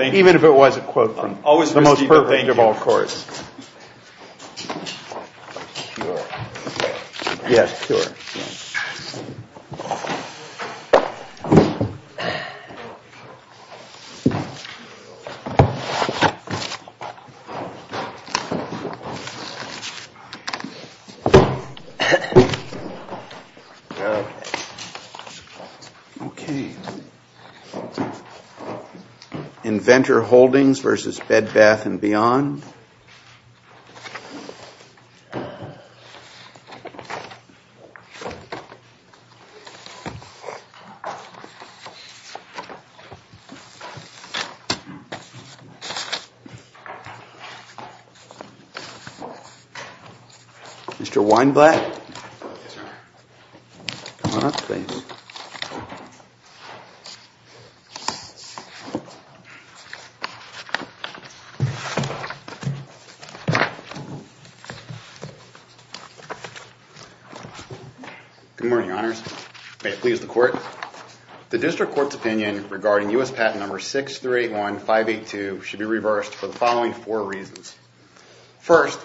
Even if it was a quote from the most perfect of all courts. Inventor Holdings v. Bed Bath & Beyond. Good morning, honors. May it please the court. The district court's opinion regarding U.S. patent number 6381582 should be reversed for the following four reasons. First,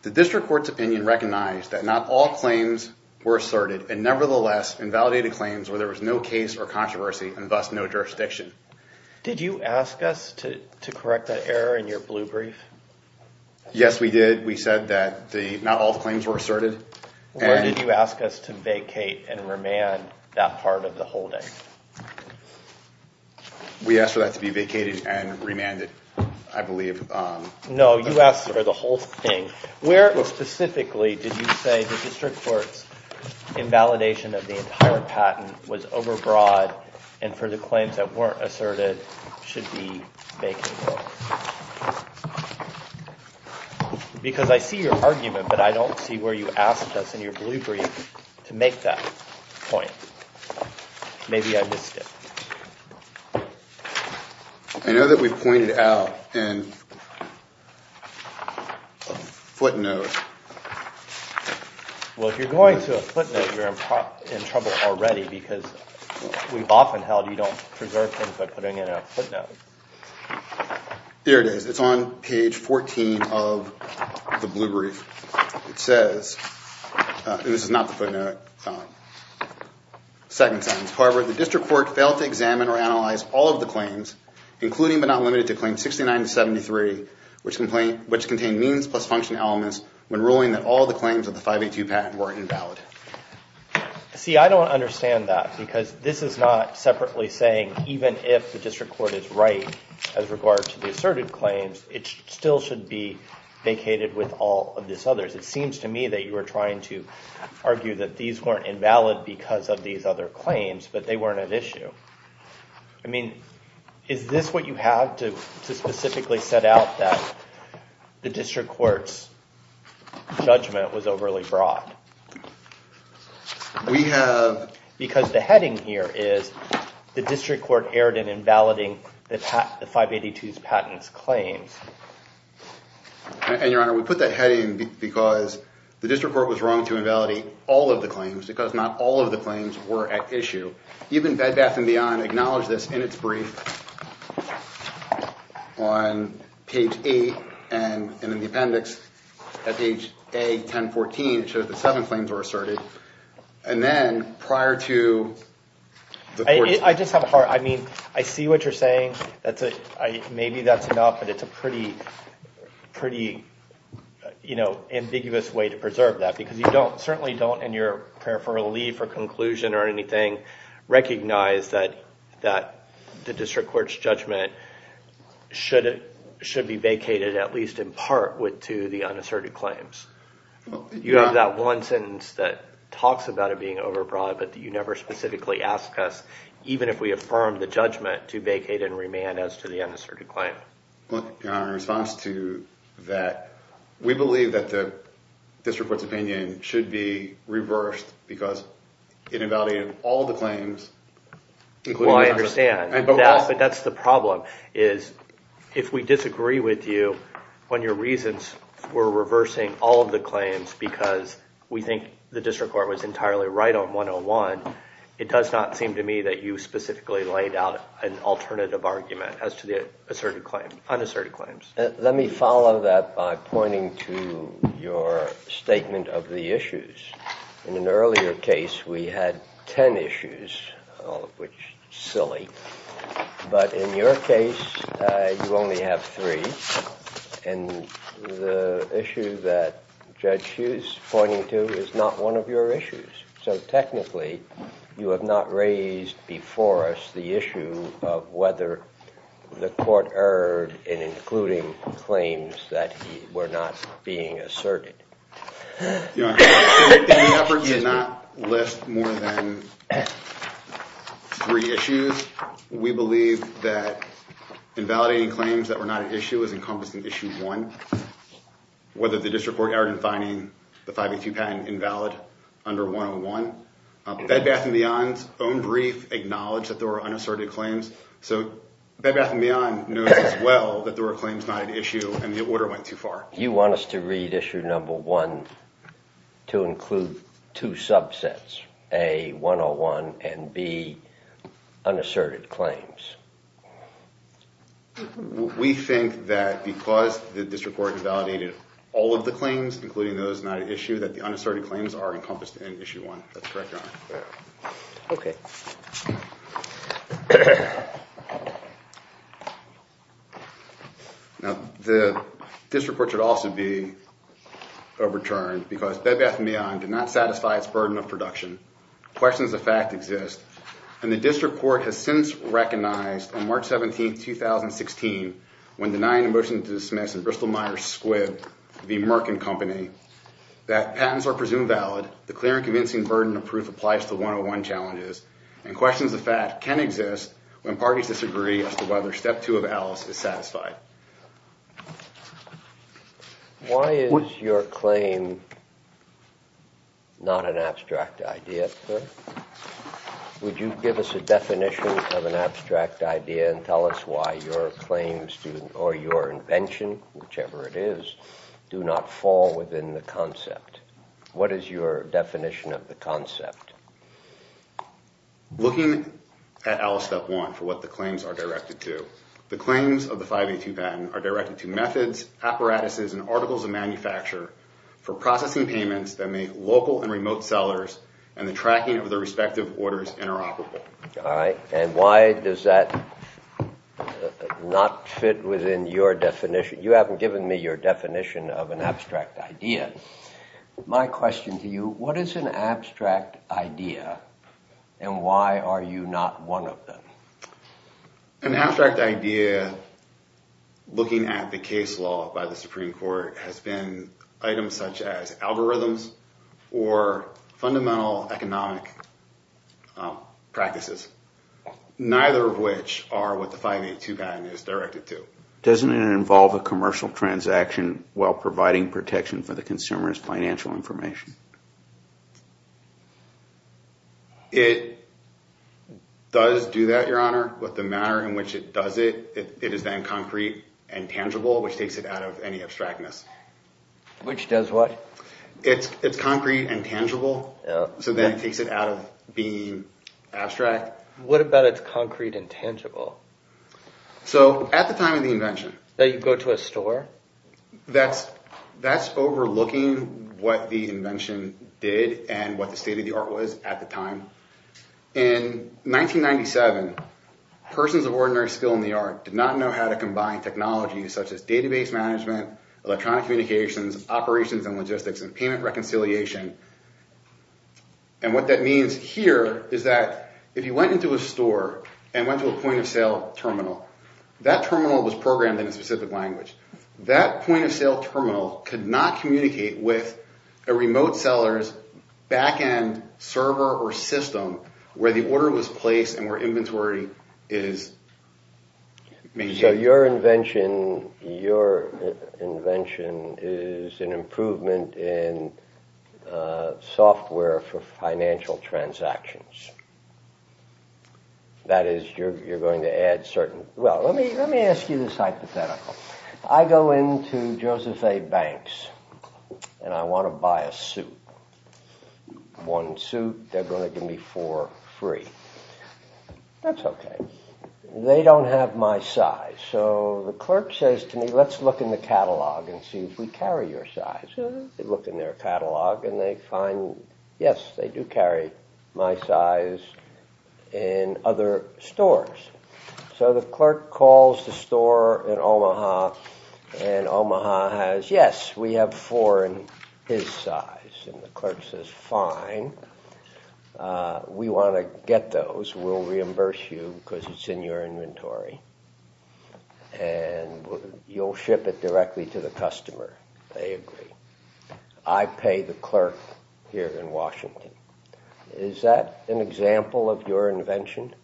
the district court's opinion recognized that not all claims were asserted, and nevertheless, invalidated claims where there was no case or controversy and thus no jurisdiction. Did you ask us to correct that error in your blue brief? Yes, we did. We said that not all the claims were asserted. Or did you ask us to vacate and remand that part of the holding? We asked for that to be vacated and remanded, I believe. No, you asked for the whole thing. Where specifically did you say the district court's invalidation of the entire patent was overbroad and for the claims that weren't asserted should be vacated? Because I see your argument, but I don't see where you asked us in your blue brief to make that point. Maybe I missed it. I know that we pointed out a footnote. Well, if you're going to a footnote, you're in trouble already, because we've often held you don't preserve things by putting in a footnote. Here it is. It's on page 14 of the blue brief. It says, and this is not the footnote, second sentence. However, the district court failed to examine or analyze all of the claims, including but not limited to Claim 69-73, which contained means plus function elements when ruling that all the claims of the 582 patent were invalid. See, I don't understand that, because this is not separately saying even if the district court is right as regards to the asserted claims, it still should be vacated with all of these others. It seems to me that you are trying to argue that these weren't invalid because of these other claims, but they weren't at issue. I mean, is this what you have to specifically set out, that the district court's judgment was overly broad? We have... Because the heading here is the district court erred in invalidating the 582's patents claims. And, Your Honor, we put that heading because the district court was wrong to invalidate all of the claims, because not all of the claims were at issue. Even Bed Bath & Beyond acknowledged this in its brief on page 8, and in the appendix at page A-1014, it shows that seven claims were asserted. And then prior to the court's... I just have a hard... I mean, I see what you're saying. Maybe that's enough, but it's a pretty ambiguous way to preserve that, because you certainly don't, in your prayer for relief or conclusion or anything, recognize that the district court's judgment should be vacated at least in part with two of the unasserted claims. You have that one sentence that talks about it being overbroad, but you never specifically ask us, even if we affirm the judgment, to vacate and remand as to the unasserted claim. Your Honor, in response to that, we believe that the district court's opinion should be reversed because it invalidated all of the claims, including the unasserted. Well, I understand, but that's the problem. If we disagree with you on your reasons for reversing all of the claims because we think the district court was entirely right on 101, it does not seem to me that you specifically laid out an alternative argument as to the unasserted claims. Let me follow that by pointing to your statement of the issues. In an earlier case, we had ten issues, all of which are silly, but in your case, you only have three, and the issue that Judge Hughes is pointing to is not one of your issues. So technically, you have not raised before us the issue of whether the court erred in including claims that were not being asserted. Your Honor, the effort did not list more than three issues. We believe that invalidating claims that were not an issue is encompassing issue one. Whether the district court erred in finding the 582 patent invalid under 101, Bed Bath & Beyond's own brief acknowledged that there were unasserted claims, so Bed Bath & Beyond knows as well that there were claims not an issue and the order went too far. You want us to read issue number one to include two subsets, A, 101, and B, unasserted claims. We think that because the district court invalidated all of the claims, including those not an issue, that the unasserted claims are encompassed in issue one. That's correct, Your Honor. Okay. Now, the district court should also be overturned because Bed Bath & Beyond did not satisfy its burden of production. Questions of fact exist, and the district court has since recognized on March 17, 2016, when denying a motion to dismiss in Bristol-Myers Squibb v. Merkin Company, that patents are presumed valid, the clear and convincing burden of proof applies to 101 challenges, and questions of fact can exist when parties disagree as to whether step two of ALICE is satisfied. Would you give us a definition of an abstract idea and tell us why your claims or your invention, whichever it is, do not fall within the concept? What is your definition of the concept? Looking at ALICE step one for what the claims are directed to, the claims of the 582 patent are directed to methods, apparatuses, and articles of manufacture for processing payments that make local and remote sellers and the tracking of the respective orders interoperable. All right, and why does that not fit within your definition? You haven't given me your definition of an abstract idea. My question to you, what is an abstract idea and why are you not one of them? An abstract idea, looking at the case law by the Supreme Court, has been items such as algorithms or fundamental economic practices, neither of which are what the 582 patent is directed to. Doesn't it involve a commercial transaction while providing protection for the consumer's financial information? It does do that, Your Honor, but the manner in which it does it, it is then concrete and tangible, which takes it out of any abstractness. Which does what? It's concrete and tangible, so then it takes it out of being abstract. What about it's concrete and tangible? So at the time of the invention. That you go to a store? That's overlooking what the invention did and what the state of the art was at the time. In 1997, persons of ordinary skill in the art did not know how to combine technologies such as database management, electronic communications, operations and logistics, and payment reconciliation. And what that means here is that if you went into a store and went to a point of sale terminal, that terminal was programmed in a specific language. That point of sale terminal could not communicate with a remote seller's backend server or system where the order was placed and where inventory is made. So your invention is an improvement in software for financial transactions. That is, you're going to add certain... Well, let me ask you this hypothetical. I go into Joseph A. Banks and I want to buy a suit. One suit, they're going to give me four free. That's okay. They don't have my size. So the clerk says to me, let's look in the catalog and see if we carry your size. They look in their catalog and they find, yes, they do carry my size in other stores. So the clerk calls the store in Omaha and Omaha has, yes, we have four in his size. And the clerk says, fine. We want to get those. We'll reimburse you because it's in your inventory. And you'll ship it directly to the customer. They agree. I pay the clerk here in Washington. Is that an example of your invention?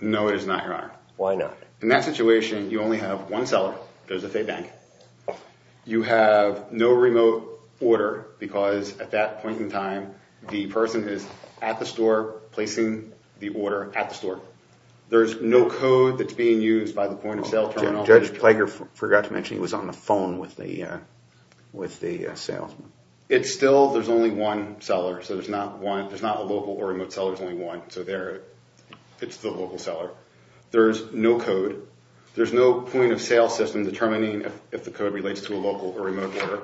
No, it is not, Your Honor. Why not? In that situation, you only have one seller, Joseph A. Banks. You have no remote order because at that point in time, the person is at the store placing the order at the store. There's no code that's being used by the point-of-sale terminal. Judge Plager forgot to mention he was on the phone with the salesman. It's still there's only one seller. So there's not one. There's not a local or remote seller. There's only one. So it's the local seller. There's no code. There's no point-of-sale system determining if the code relates to a local or remote order.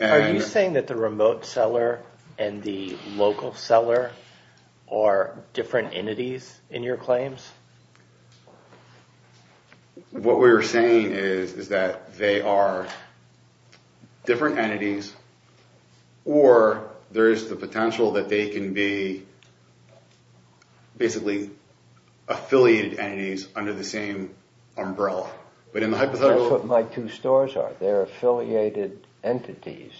Are you saying that the remote seller and the local seller are different entities in your claims? What we're saying is that they are different entities or there is the potential that they can be basically affiliated entities under the same umbrella. That's what my two stores are. They're affiliated entities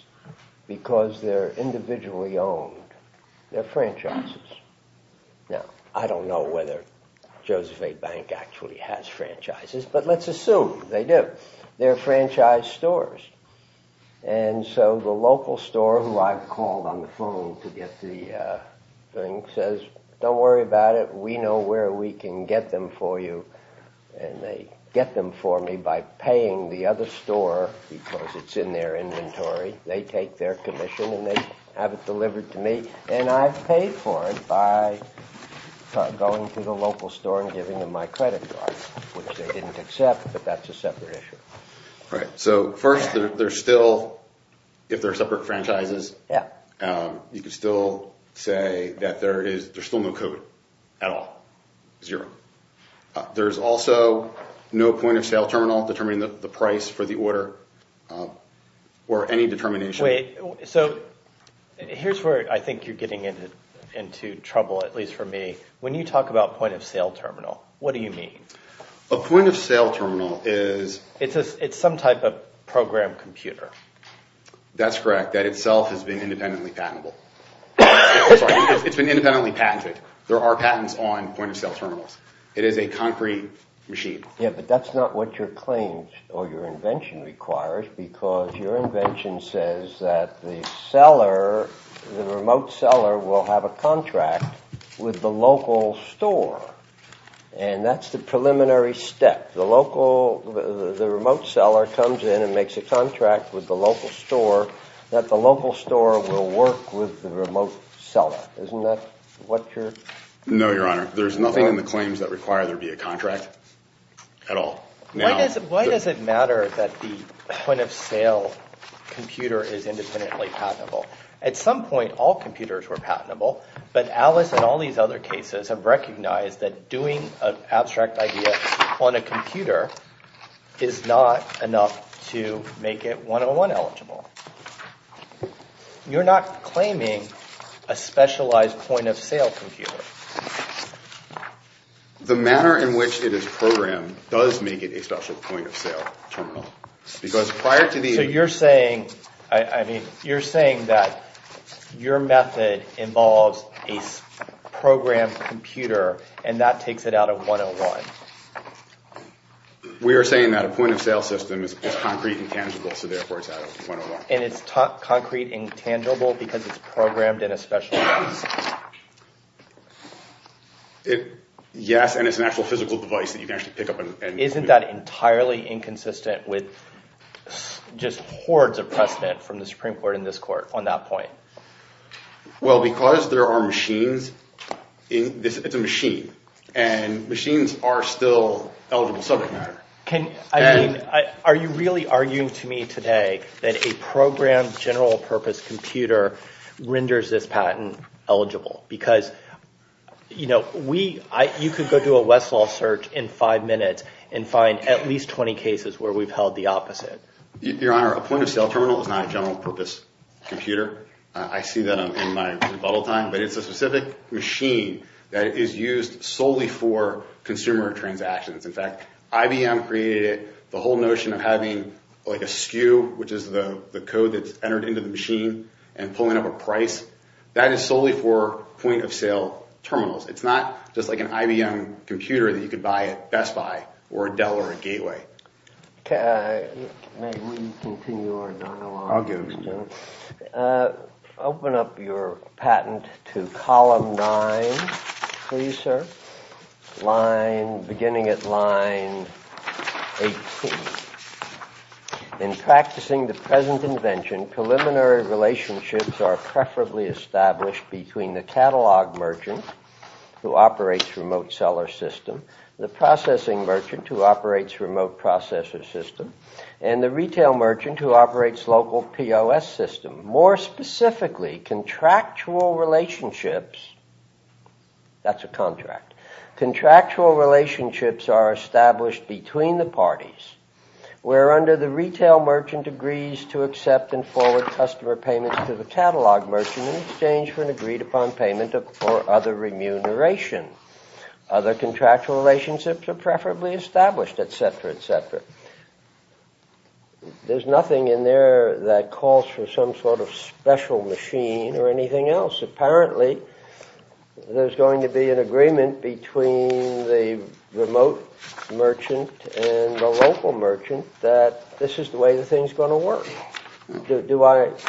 because they're individually owned. They're franchises. Now, I don't know whether Joseph A. Bank actually has franchises, but let's assume they do. They're franchise stores. And so the local store, who I've called on the phone to get the thing, says, don't worry about it. We know where we can get them for you. And they get them for me by paying the other store because it's in their inventory. They take their commission and they have it delivered to me. And I've paid for it by going to the local store and giving them my credit card, which they didn't accept, but that's a separate issue. Right. So first, if they're separate franchises, you could still say that there's still no code at all. Zero. There's also no point-of-sale terminal determining the price for the order or any determination. Wait. So here's where I think you're getting into trouble, at least for me. When you talk about point-of-sale terminal, what do you mean? A point-of-sale terminal is… It's some type of program computer. That's correct. That itself has been independently patentable. Sorry. It's been independently patented. There are patents on point-of-sale terminals. It is a concrete machine. Yeah, but that's not what your claims or your invention requires because your invention says that the seller, the remote seller, will have a contract with the local store. And that's the preliminary step. The remote seller comes in and makes a contract with the local store that the local store will work with the remote seller. Isn't that what your… No, Your Honor. There's nothing in the claims that require there be a contract at all. Why does it matter that the point-of-sale computer is independently patentable? At some point, all computers were patentable, but Alice and all these other cases have recognized that doing an abstract idea on a computer is not enough to make it one-on-one eligible. You're not claiming a specialized point-of-sale computer. The manner in which it is programmed does make it a special point-of-sale terminal because prior to the… So you're saying, I mean, you're saying that your method involves a programmed computer and that takes it out of one-on-one. We are saying that a point-of-sale system is concrete and tangible, so therefore it's out of one-on-one. And it's concrete and tangible because it's programmed in a special way. Yes, and it's an actual physical device that you can actually pick up and… Isn't that entirely inconsistent with just hordes of precedent from the Supreme Court in this court on that point? Well, because there are machines in – it's a machine, and machines are still eligible subject matter. Can – I mean, are you really arguing to me today that a programmed general-purpose computer renders this patent eligible? Because, you know, we – you could go do a Westlaw search in five minutes and find at least 20 cases where we've held the opposite. Your Honor, a point-of-sale terminal is not a general-purpose computer. I see that in my rebuttal time, but it's a specific machine that is used solely for consumer transactions. In fact, IBM created it. The whole notion of having like a SKU, which is the code that's entered into the machine and pulling up a price, that is solely for point-of-sale terminals. It's not just like an IBM computer that you could buy at Best Buy or a Dell or a Gateway. May we continue our dialogue? I'll give it to you. Open up your patent to column nine, please, sir. Line – beginning at line 18. In practicing the present invention, preliminary relationships are preferably established between the catalog merchant, who operates remote seller system, the processing merchant, who operates remote processor system, and the retail merchant, who operates local POS system. More specifically, contractual relationships – that's a contract – contractual relationships are established between the parties, where under the retail merchant agrees to accept and forward customer payments to the catalog merchant in exchange for an agreed-upon payment or other remuneration. Other contractual relationships are preferably established, etc., etc. There's nothing in there that calls for some sort of special machine or anything else. Apparently, there's going to be an agreement between the remote merchant and the local merchant that this is the way the thing's going to work.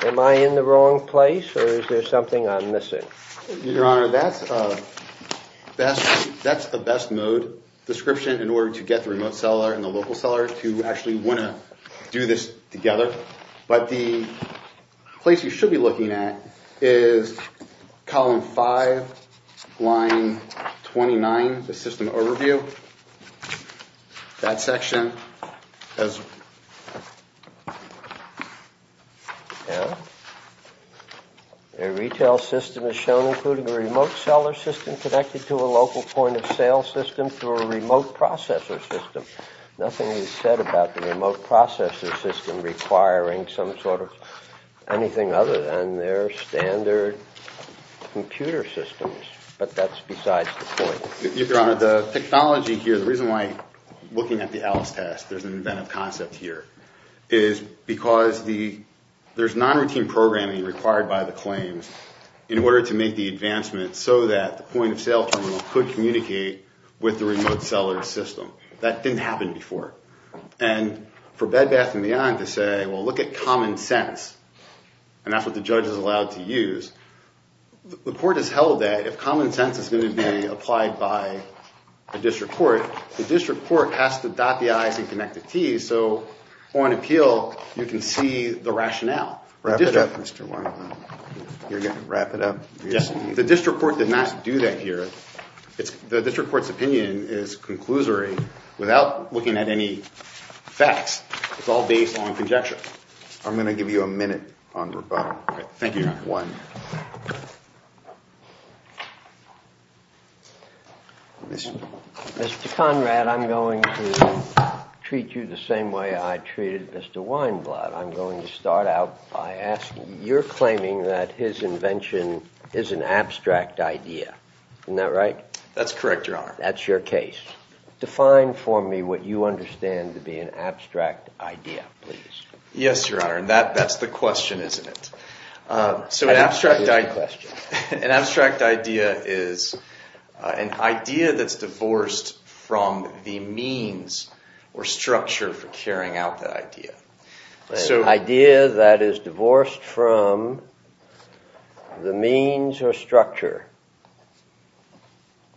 Am I in the wrong place, or is there something I'm missing? Your Honor, that's a best-mode description in order to get the remote seller and the local seller to actually want to do this together. But the place you should be looking at is column five, line 29, the system overview. That section has – Yeah. A retail system is shown including a remote seller system connected to a local point-of-sale system through a remote processor system. Nothing is said about the remote processor system requiring some sort of anything other than their standard computer systems, but that's besides the point. Your Honor, the technology here, the reason why looking at the Alice test, there's an inventive concept here, is because there's non-routine programming required by the claims in order to make the advancement so that the point-of-sale terminal could communicate with the remote seller system. That didn't happen before. And for Bed Bath & Beyond to say, well, look at common sense, and that's what the judge is allowed to use, the court has held that if common sense is going to be applied by a district court, the district court has to dot the I's and connect the T's, so on appeal you can see the rationale. Wrap it up, Mr. Warren. You're going to wrap it up? Yes. The district court did not do that here. The district court's opinion is conclusory without looking at any facts. It's all based on conjecture. I'm going to give you a minute on rebuttal. Thank you. Mr. Conrad, I'm going to treat you the same way I treated Mr. Weinblatt. I'm going to start out by asking, you're claiming that his invention is an abstract idea. Isn't that right? That's correct, Your Honor. That's your case. Define for me what you understand to be an abstract idea, please. Yes, Your Honor, and that's the question, isn't it? An abstract idea is an idea that's divorced from the means or structure for carrying out that idea. An idea that is divorced from the means or structure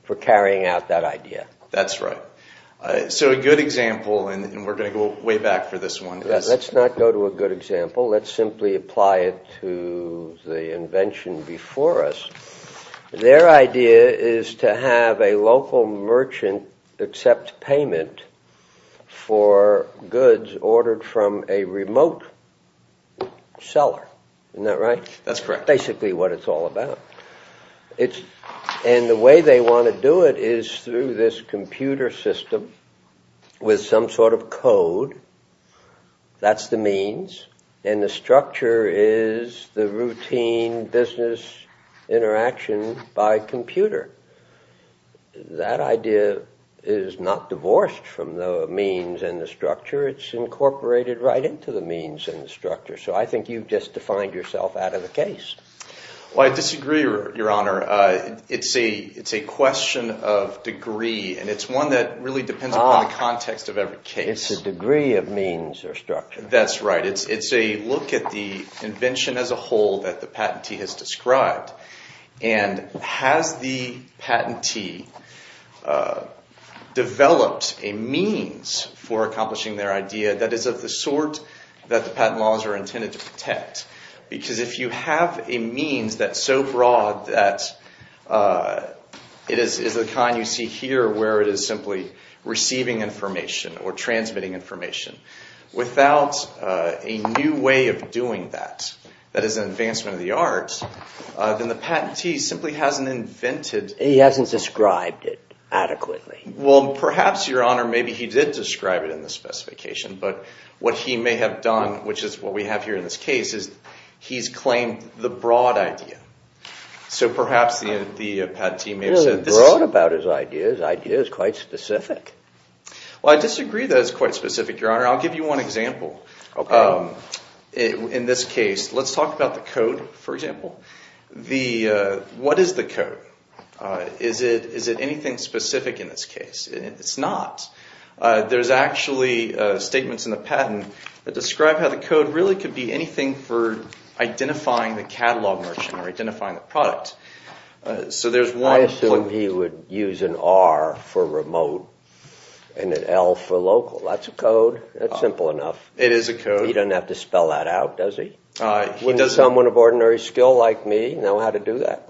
for carrying out that idea. That's right. So a good example, and we're going to go way back for this one. Let's not go to a good example. Let's simply apply it to the invention before us. Their idea is to have a local merchant accept payment for goods ordered from a remote seller. Isn't that right? That's correct. That's basically what it's all about. And the way they want to do it is through this computer system with some sort of code. That's the means, and the structure is the routine business interaction by computer. That idea is not divorced from the means and the structure. It's incorporated right into the means and the structure. So I think you've just defined yourself out of the case. Well, I disagree, Your Honor. It's a question of degree, and it's one that really depends upon the context of every case. It's the degree of means or structure. That's right. It's a look at the invention as a whole that the patentee has described. And has the patentee developed a means for accomplishing their idea that is of the sort that the patent laws are intended to protect? Because if you have a means that's so broad that it is the kind you see here where it is simply receiving information or transmitting information, without a new way of doing that that is an advancement of the arts, then the patentee simply hasn't invented— He hasn't described it adequately. Well, perhaps, Your Honor, maybe he did describe it in the specification. But what he may have done, which is what we have here in this case, is he's claimed the broad idea. So perhaps the patentee may have said— He wasn't broad about his ideas. His idea is quite specific. Well, I disagree that it's quite specific, Your Honor. I'll give you one example. Okay. In this case, let's talk about the code, for example. What is the code? Is it anything specific in this case? It's not. There's actually statements in the patent that describe how the code really could be anything for identifying the catalog merchant or identifying the product. So there's one— I assume he would use an R for remote and an L for local. That's a code. That's simple enough. It is a code. He doesn't have to spell that out, does he? Would someone of ordinary skill like me know how to do that?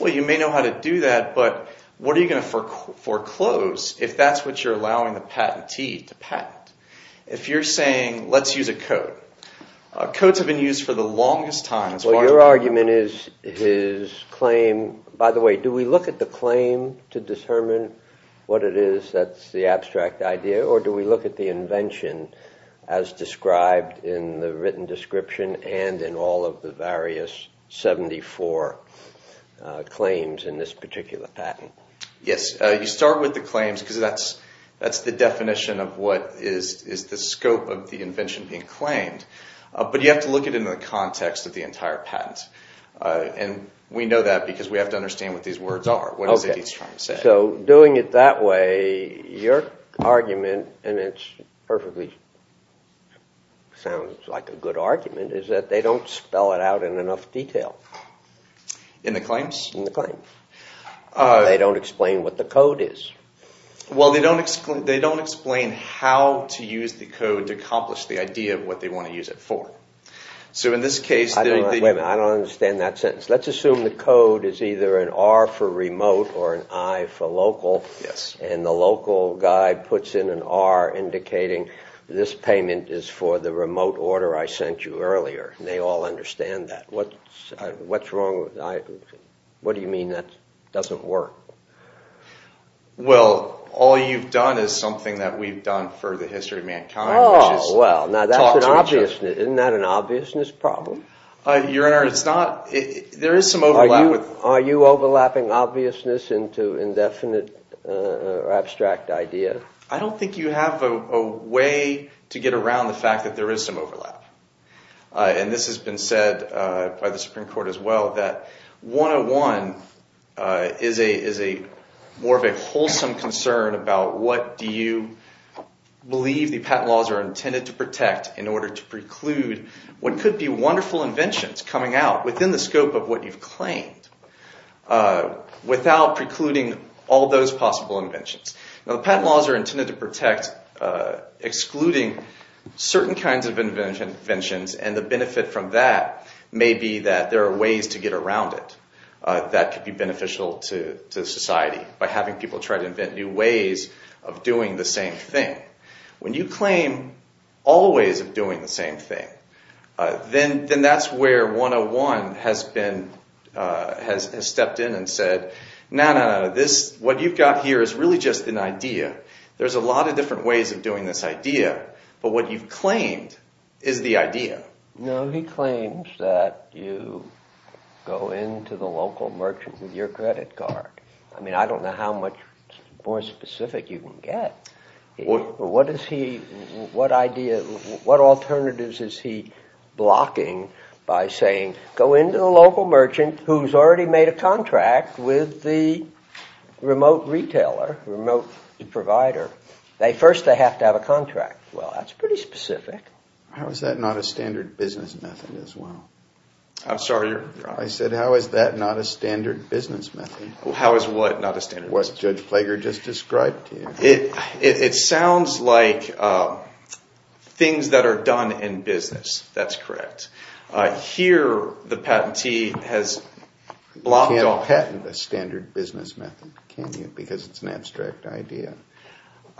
Well, you may know how to do that, but what are you going to foreclose? If that's what you're allowing the patentee to patent. If you're saying, let's use a code. Codes have been used for the longest time as far as— Well, your argument is his claim— By the way, do we look at the claim to determine what it is that's the abstract idea, or do we look at the invention as described in the written description and in all of the various 74 claims in this particular patent? Yes. You start with the claims because that's the definition of what is the scope of the invention being claimed. But you have to look at it in the context of the entire patent. And we know that because we have to understand what these words are. What is it he's trying to say? So doing it that way, your argument—and it perfectly sounds like a good argument—is that they don't spell it out in enough detail. In the claims? In the claims. They don't explain what the code is. Well, they don't explain how to use the code to accomplish the idea of what they want to use it for. So in this case— Wait a minute. I don't understand that sentence. Let's assume the code is either an R for remote or an I for local. And the local guy puts in an R indicating this payment is for the remote order I sent you earlier. They all understand that. What's wrong with—what do you mean that doesn't work? Well, all you've done is something that we've done for the history of mankind, which is— Oh, well, now that's an obvious—isn't that an obviousness problem? Your Honor, it's not—there is some overlap with— Are you overlapping obviousness into indefinite or abstract idea? I don't think you have a way to get around the fact that there is some overlap. And this has been said by the Supreme Court as well, that 101 is more of a wholesome concern about what do you believe the patent laws are intended to protect in order to preclude what could be wonderful inventions coming out within the scope of what you've claimed without precluding all those possible inventions. Now, the patent laws are intended to protect excluding certain kinds of inventions and the benefit from that may be that there are ways to get around it that could be beneficial to society by having people try to invent new ways of doing the same thing. When you claim all ways of doing the same thing, then that's where 101 has stepped in and said, no, no, no, this—what you've got here is really just an idea. There's a lot of different ways of doing this idea, but what you've claimed is the idea. No, he claims that you go into the local merchant with your credit card. I mean, I don't know how much more specific you can get. What is he—what idea—what alternatives is he blocking by saying, go into the local merchant who's already made a contract with the remote retailer, remote provider. First, they have to have a contract. Well, that's pretty specific. How is that not a standard business method as well? I'm sorry, your honor. I said, how is that not a standard business method? How is what not a standard business method? What Judge Plager just described to you. It sounds like things that are done in business. That's correct. Here, the patentee has blocked off— You can't patent a standard business method, can you, because it's an abstract idea.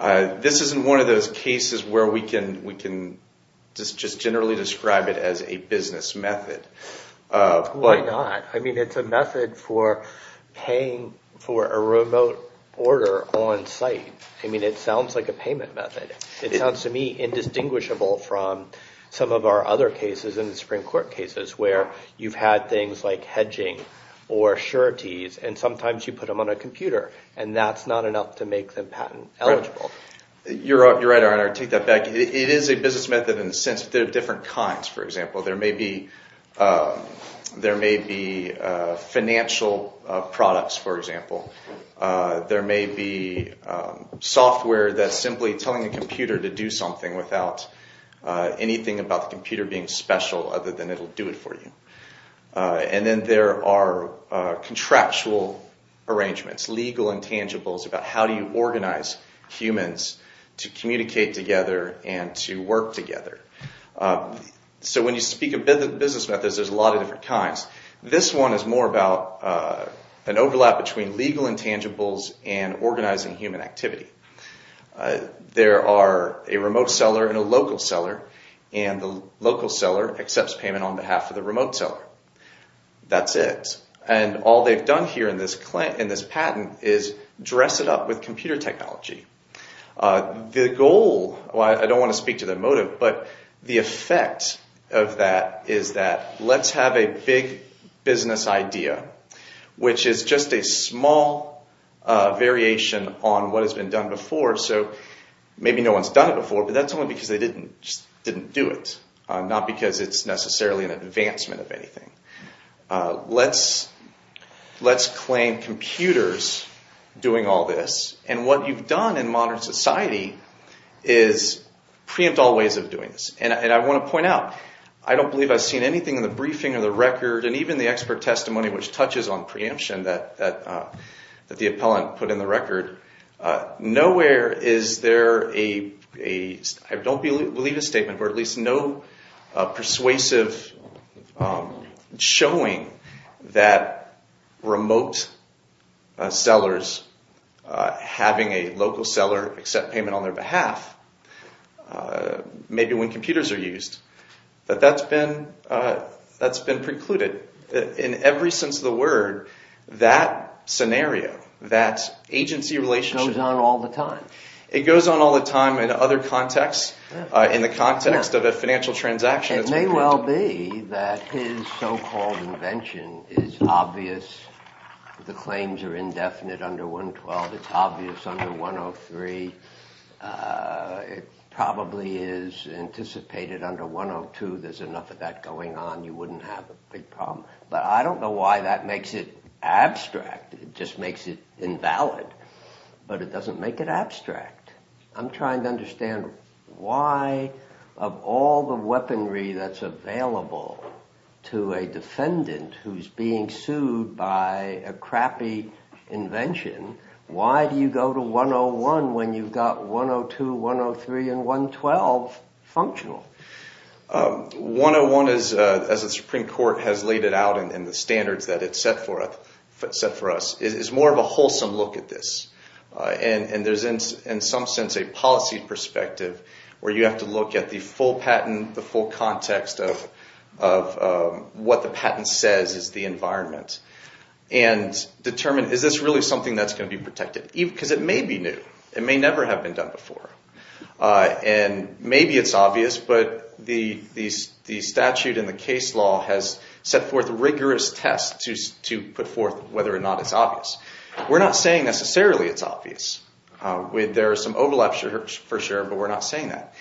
This isn't one of those cases where we can just generally describe it as a business method. Why not? I mean, it's a method for paying for a remote order on site. I mean, it sounds like a payment method. It sounds to me indistinguishable from some of our other cases in the Supreme Court cases where you've had things like hedging or sureties, and sometimes you put them on a computer, and that's not enough to make them patent eligible. You're right, your honor. I take that back. It is a business method in the sense that there are different kinds. For example, there may be financial products, for example. There may be software that's simply telling the computer to do something without anything about the computer being special other than it'll do it for you. And then there are contractual arrangements, legal intangibles, about how do you organize humans to communicate together and to work together. So when you speak of business methods, there's a lot of different kinds. This one is more about an overlap between legal intangibles and organizing human activity. There are a remote seller and a local seller, and the local seller accepts payment on behalf of the remote seller. That's it. And all they've done here in this patent is dress it up with computer technology. The goal, I don't want to speak to the motive, but the effect of that is that let's have a big business idea, which is just a small variation on what has been done before. So maybe no one's done it before, but that's only because they didn't do it, not because it's necessarily an advancement of anything. Let's claim computers doing all this. And what you've done in modern society is preempt all ways of doing this. And I want to point out, I don't believe I've seen anything in the briefing or the record, and even the expert testimony which touches on preemption that the appellant put in the record. Nowhere is there a, I don't believe a statement, or at least no persuasive showing that remote sellers having a local seller accept payment on their behalf, maybe when computers are used, that that's been precluded. In every sense of the word, that scenario, that agency relationship. It goes on all the time. It goes on all the time in other contexts, in the context of a financial transaction. It may well be that his so-called invention is obvious. The claims are indefinite under 112. It's obvious under 103. It probably is anticipated under 102. There's enough of that going on. You wouldn't have a big problem. But I don't know why that makes it abstract. It just makes it invalid. But it doesn't make it abstract. I'm trying to understand why, of all the weaponry that's available to a defendant who's being sued by a crappy invention, why do you go to 101 when you've got 102, 103, and 112 functional? 101, as the Supreme Court has laid it out in the standards that it's set for us, is more of a wholesome look at this. And there's, in some sense, a policy perspective where you have to look at the full patent, the full context of what the patent says is the environment and determine, is this really something that's going to be protected? Because it may be new. It may never have been done before. And maybe it's obvious, but the statute and the case law has set forth rigorous tests to put forth whether or not it's obvious. We're not saying necessarily it's obvious. There are some overlaps, for sure, but we're not saying that.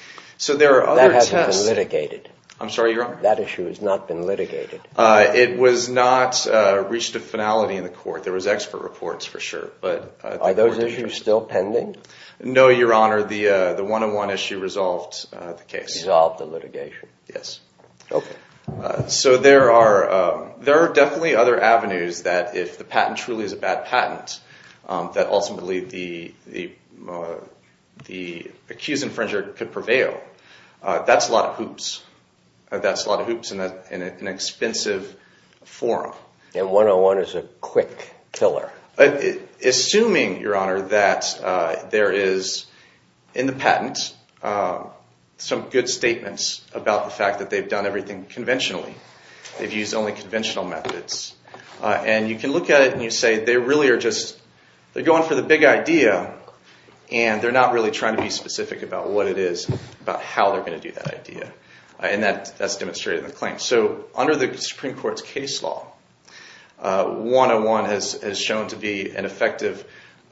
That hasn't been litigated. I'm sorry, Your Honor? That issue has not been litigated. It was not reached a finality in the court. There was expert reports, for sure. Are those issues still pending? No, Your Honor. The 101 issue resolved the case. Resolved the litigation. Yes. Okay. So there are definitely other avenues that if the patent truly is a bad patent, that ultimately the accused infringer could prevail. That's a lot of hoops. That's a lot of hoops in an expensive forum. And 101 is a quick killer. Assuming, Your Honor, that there is in the patent some good statements about the fact that they've done everything conventionally, they've used only conventional methods, and you can look at it and you say they really are just going for the big idea and they're not really trying to be specific about what it is, about how they're going to do that idea. And that's demonstrated in the claim. So under the Supreme Court's case law, 101 has shown to be an effective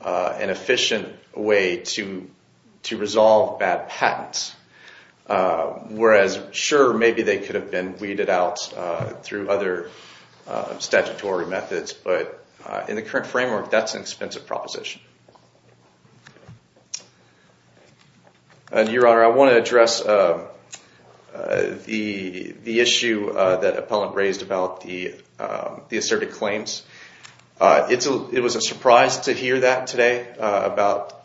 and efficient way to resolve bad patents. Whereas, sure, maybe they could have been weeded out through other statutory methods, but in the current framework, that's an expensive proposition. And, Your Honor, I want to address the issue that an appellant raised about the asserted claims. It was a surprise to hear that today about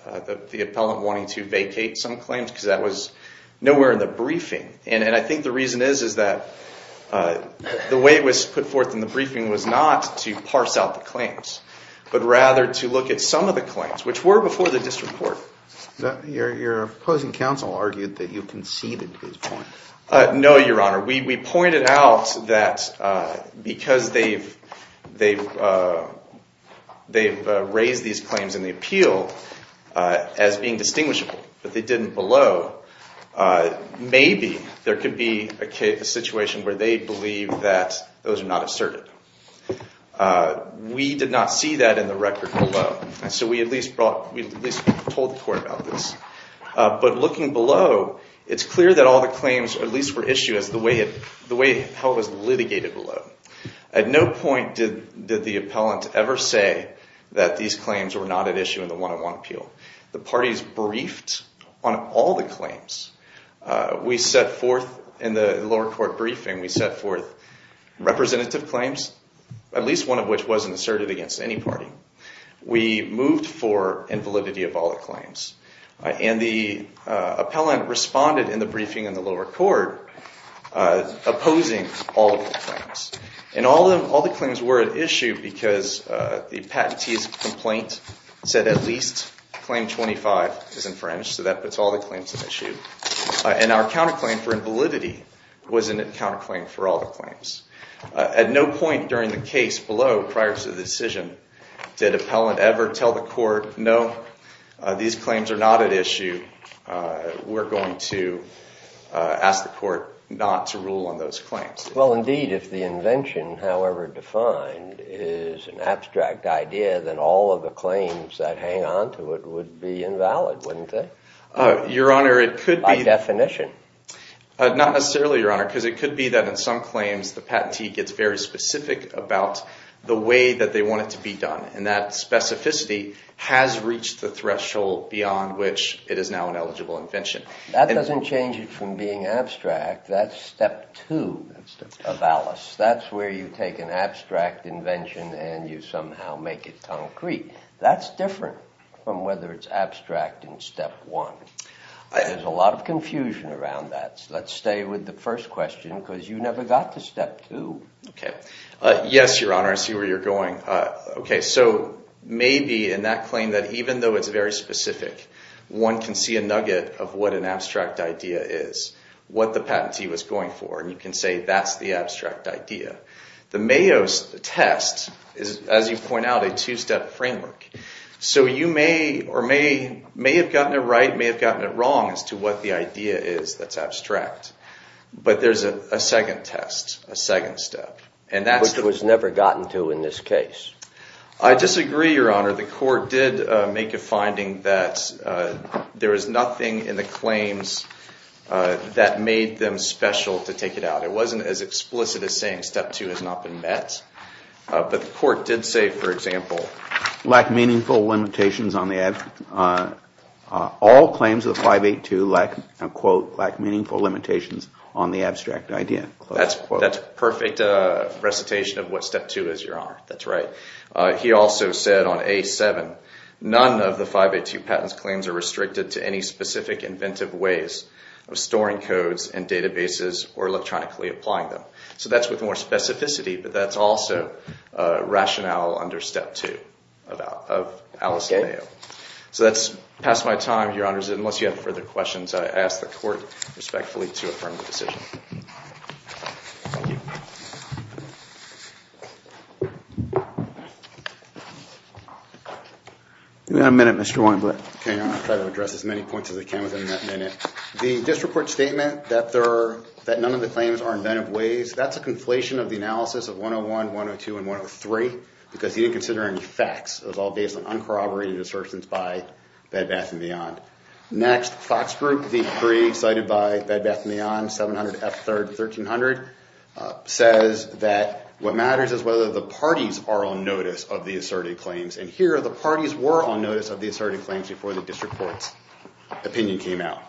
the appellant wanting to vacate some claims because that was nowhere in the briefing. And I think the reason is that the way it was put forth in the briefing was not to parse out the claims, but rather to look at some of the claims, which were before the district court. Your opposing counsel argued that you conceded his point. No, Your Honor. We pointed out that because they've raised these claims in the appeal as being distinguishable, but they didn't below, maybe there could be a situation where they believe that those are not asserted. We did not see that in the record below, so we at least told the court about this. But looking below, it's clear that all the claims at least were issued as the way it was litigated below. At no point did the appellant ever say that these claims were not at issue in the 101 appeal. The parties briefed on all the claims. We set forth in the lower court briefing, we set forth representative claims, at least one of which wasn't asserted against any party. We moved for invalidity of all the claims. And the appellant responded in the briefing in the lower court opposing all of the claims. And all the claims were at issue because the patentee's complaint said at least claim 25 is infringed, so that puts all the claims at issue. And our counterclaim for invalidity wasn't a counterclaim for all the claims. At no point during the case below, prior to the decision, did appellant ever tell the court, no, these claims are not at issue. We're going to ask the court not to rule on those claims. Well, indeed, if the invention, however defined, is an abstract idea, then all of the claims that hang onto it would be invalid, wouldn't they? Your Honor, it could be. By definition. Not necessarily, Your Honor, because it could be that in some claims, the patentee gets very specific about the way that they want it to be done. And that specificity has reached the threshold beyond which it is now an eligible invention. That doesn't change it from being abstract. That's step two of ALICE. That's where you take an abstract invention and you somehow make it concrete. That's different from whether it's abstract in step one. There's a lot of confusion around that. Let's stay with the first question because you never got to step two. Yes, Your Honor, I see where you're going. So maybe in that claim that even though it's very specific, one can see a nugget of what an abstract idea is, what the patentee was going for, and you can say that's the abstract idea. The Mayo's test is, as you point out, a two-step framework. So you may or may have gotten it right, may have gotten it wrong as to what the idea is that's abstract. But there's a second test, a second step. But it was never gotten to in this case. I disagree, Your Honor. The court did make a finding that there is nothing in the claims that made them special to take it out. It wasn't as explicit as saying step two has not been met. But the court did say, for example, all claims of 582 lack meaningful limitations on the abstract idea. That's a perfect recitation of what step two is, Your Honor. That's right. He also said on A7, none of the 582 patents claims are restricted to any specific inventive ways of storing codes and databases or electronically applying them. So that's with more specificity, but that's also rationale under step two of Alice and Mayo. So that's past my time, Your Honors. Unless you have further questions, I ask the court respectfully to affirm the decision. Thank you. You've got a minute, Mr. Weinblatt. Okay, Your Honor. I'll try to address as many points as I can within that minute. The disreport statement that none of the claims are inventive ways, that's a conflation of the analysis of 101, 102, and 103 because he didn't consider any facts. It was all based on uncorroborated assertions by Bed Bath & Beyond. Next, Fox Group, the three cited by Bed Bath & Beyond, 700, F3rd, 1300, says that what matters is whether the parties are on notice of the asserted claims. And here, the parties were on notice of the asserted claims before the district court's opinion came out.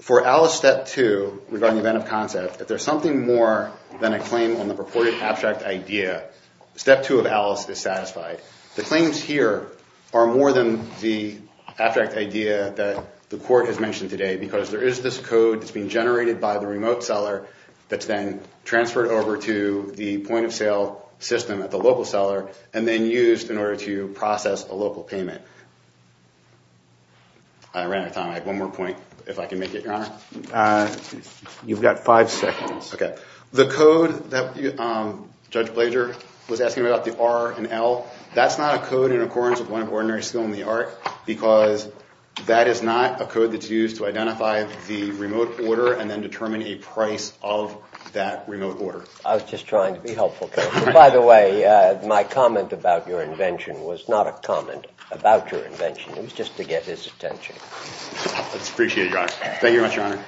For Alice, step two, regarding inventive concept, if there's something more than a claim on the purported abstract idea, step two of Alice is satisfied. The claims here are more than the abstract idea that the court has mentioned today because there is this code that's being generated by the remote seller that's then transferred over to the point of sale system at the local seller and then used in order to process a local payment. I ran out of time. I have one more point, if I can make it, Your Honor. You've got five seconds. Okay. The code that Judge Blager was asking about, the R and L, that's not a code in accordance with one of ordinary skill in the art because that is not a code that's used to identify the remote order and then determine a price of that remote order. I was just trying to be helpful. By the way, my comment about your invention was not a comment about your invention. It was just to get his attention. Thank you very much, Your Honor.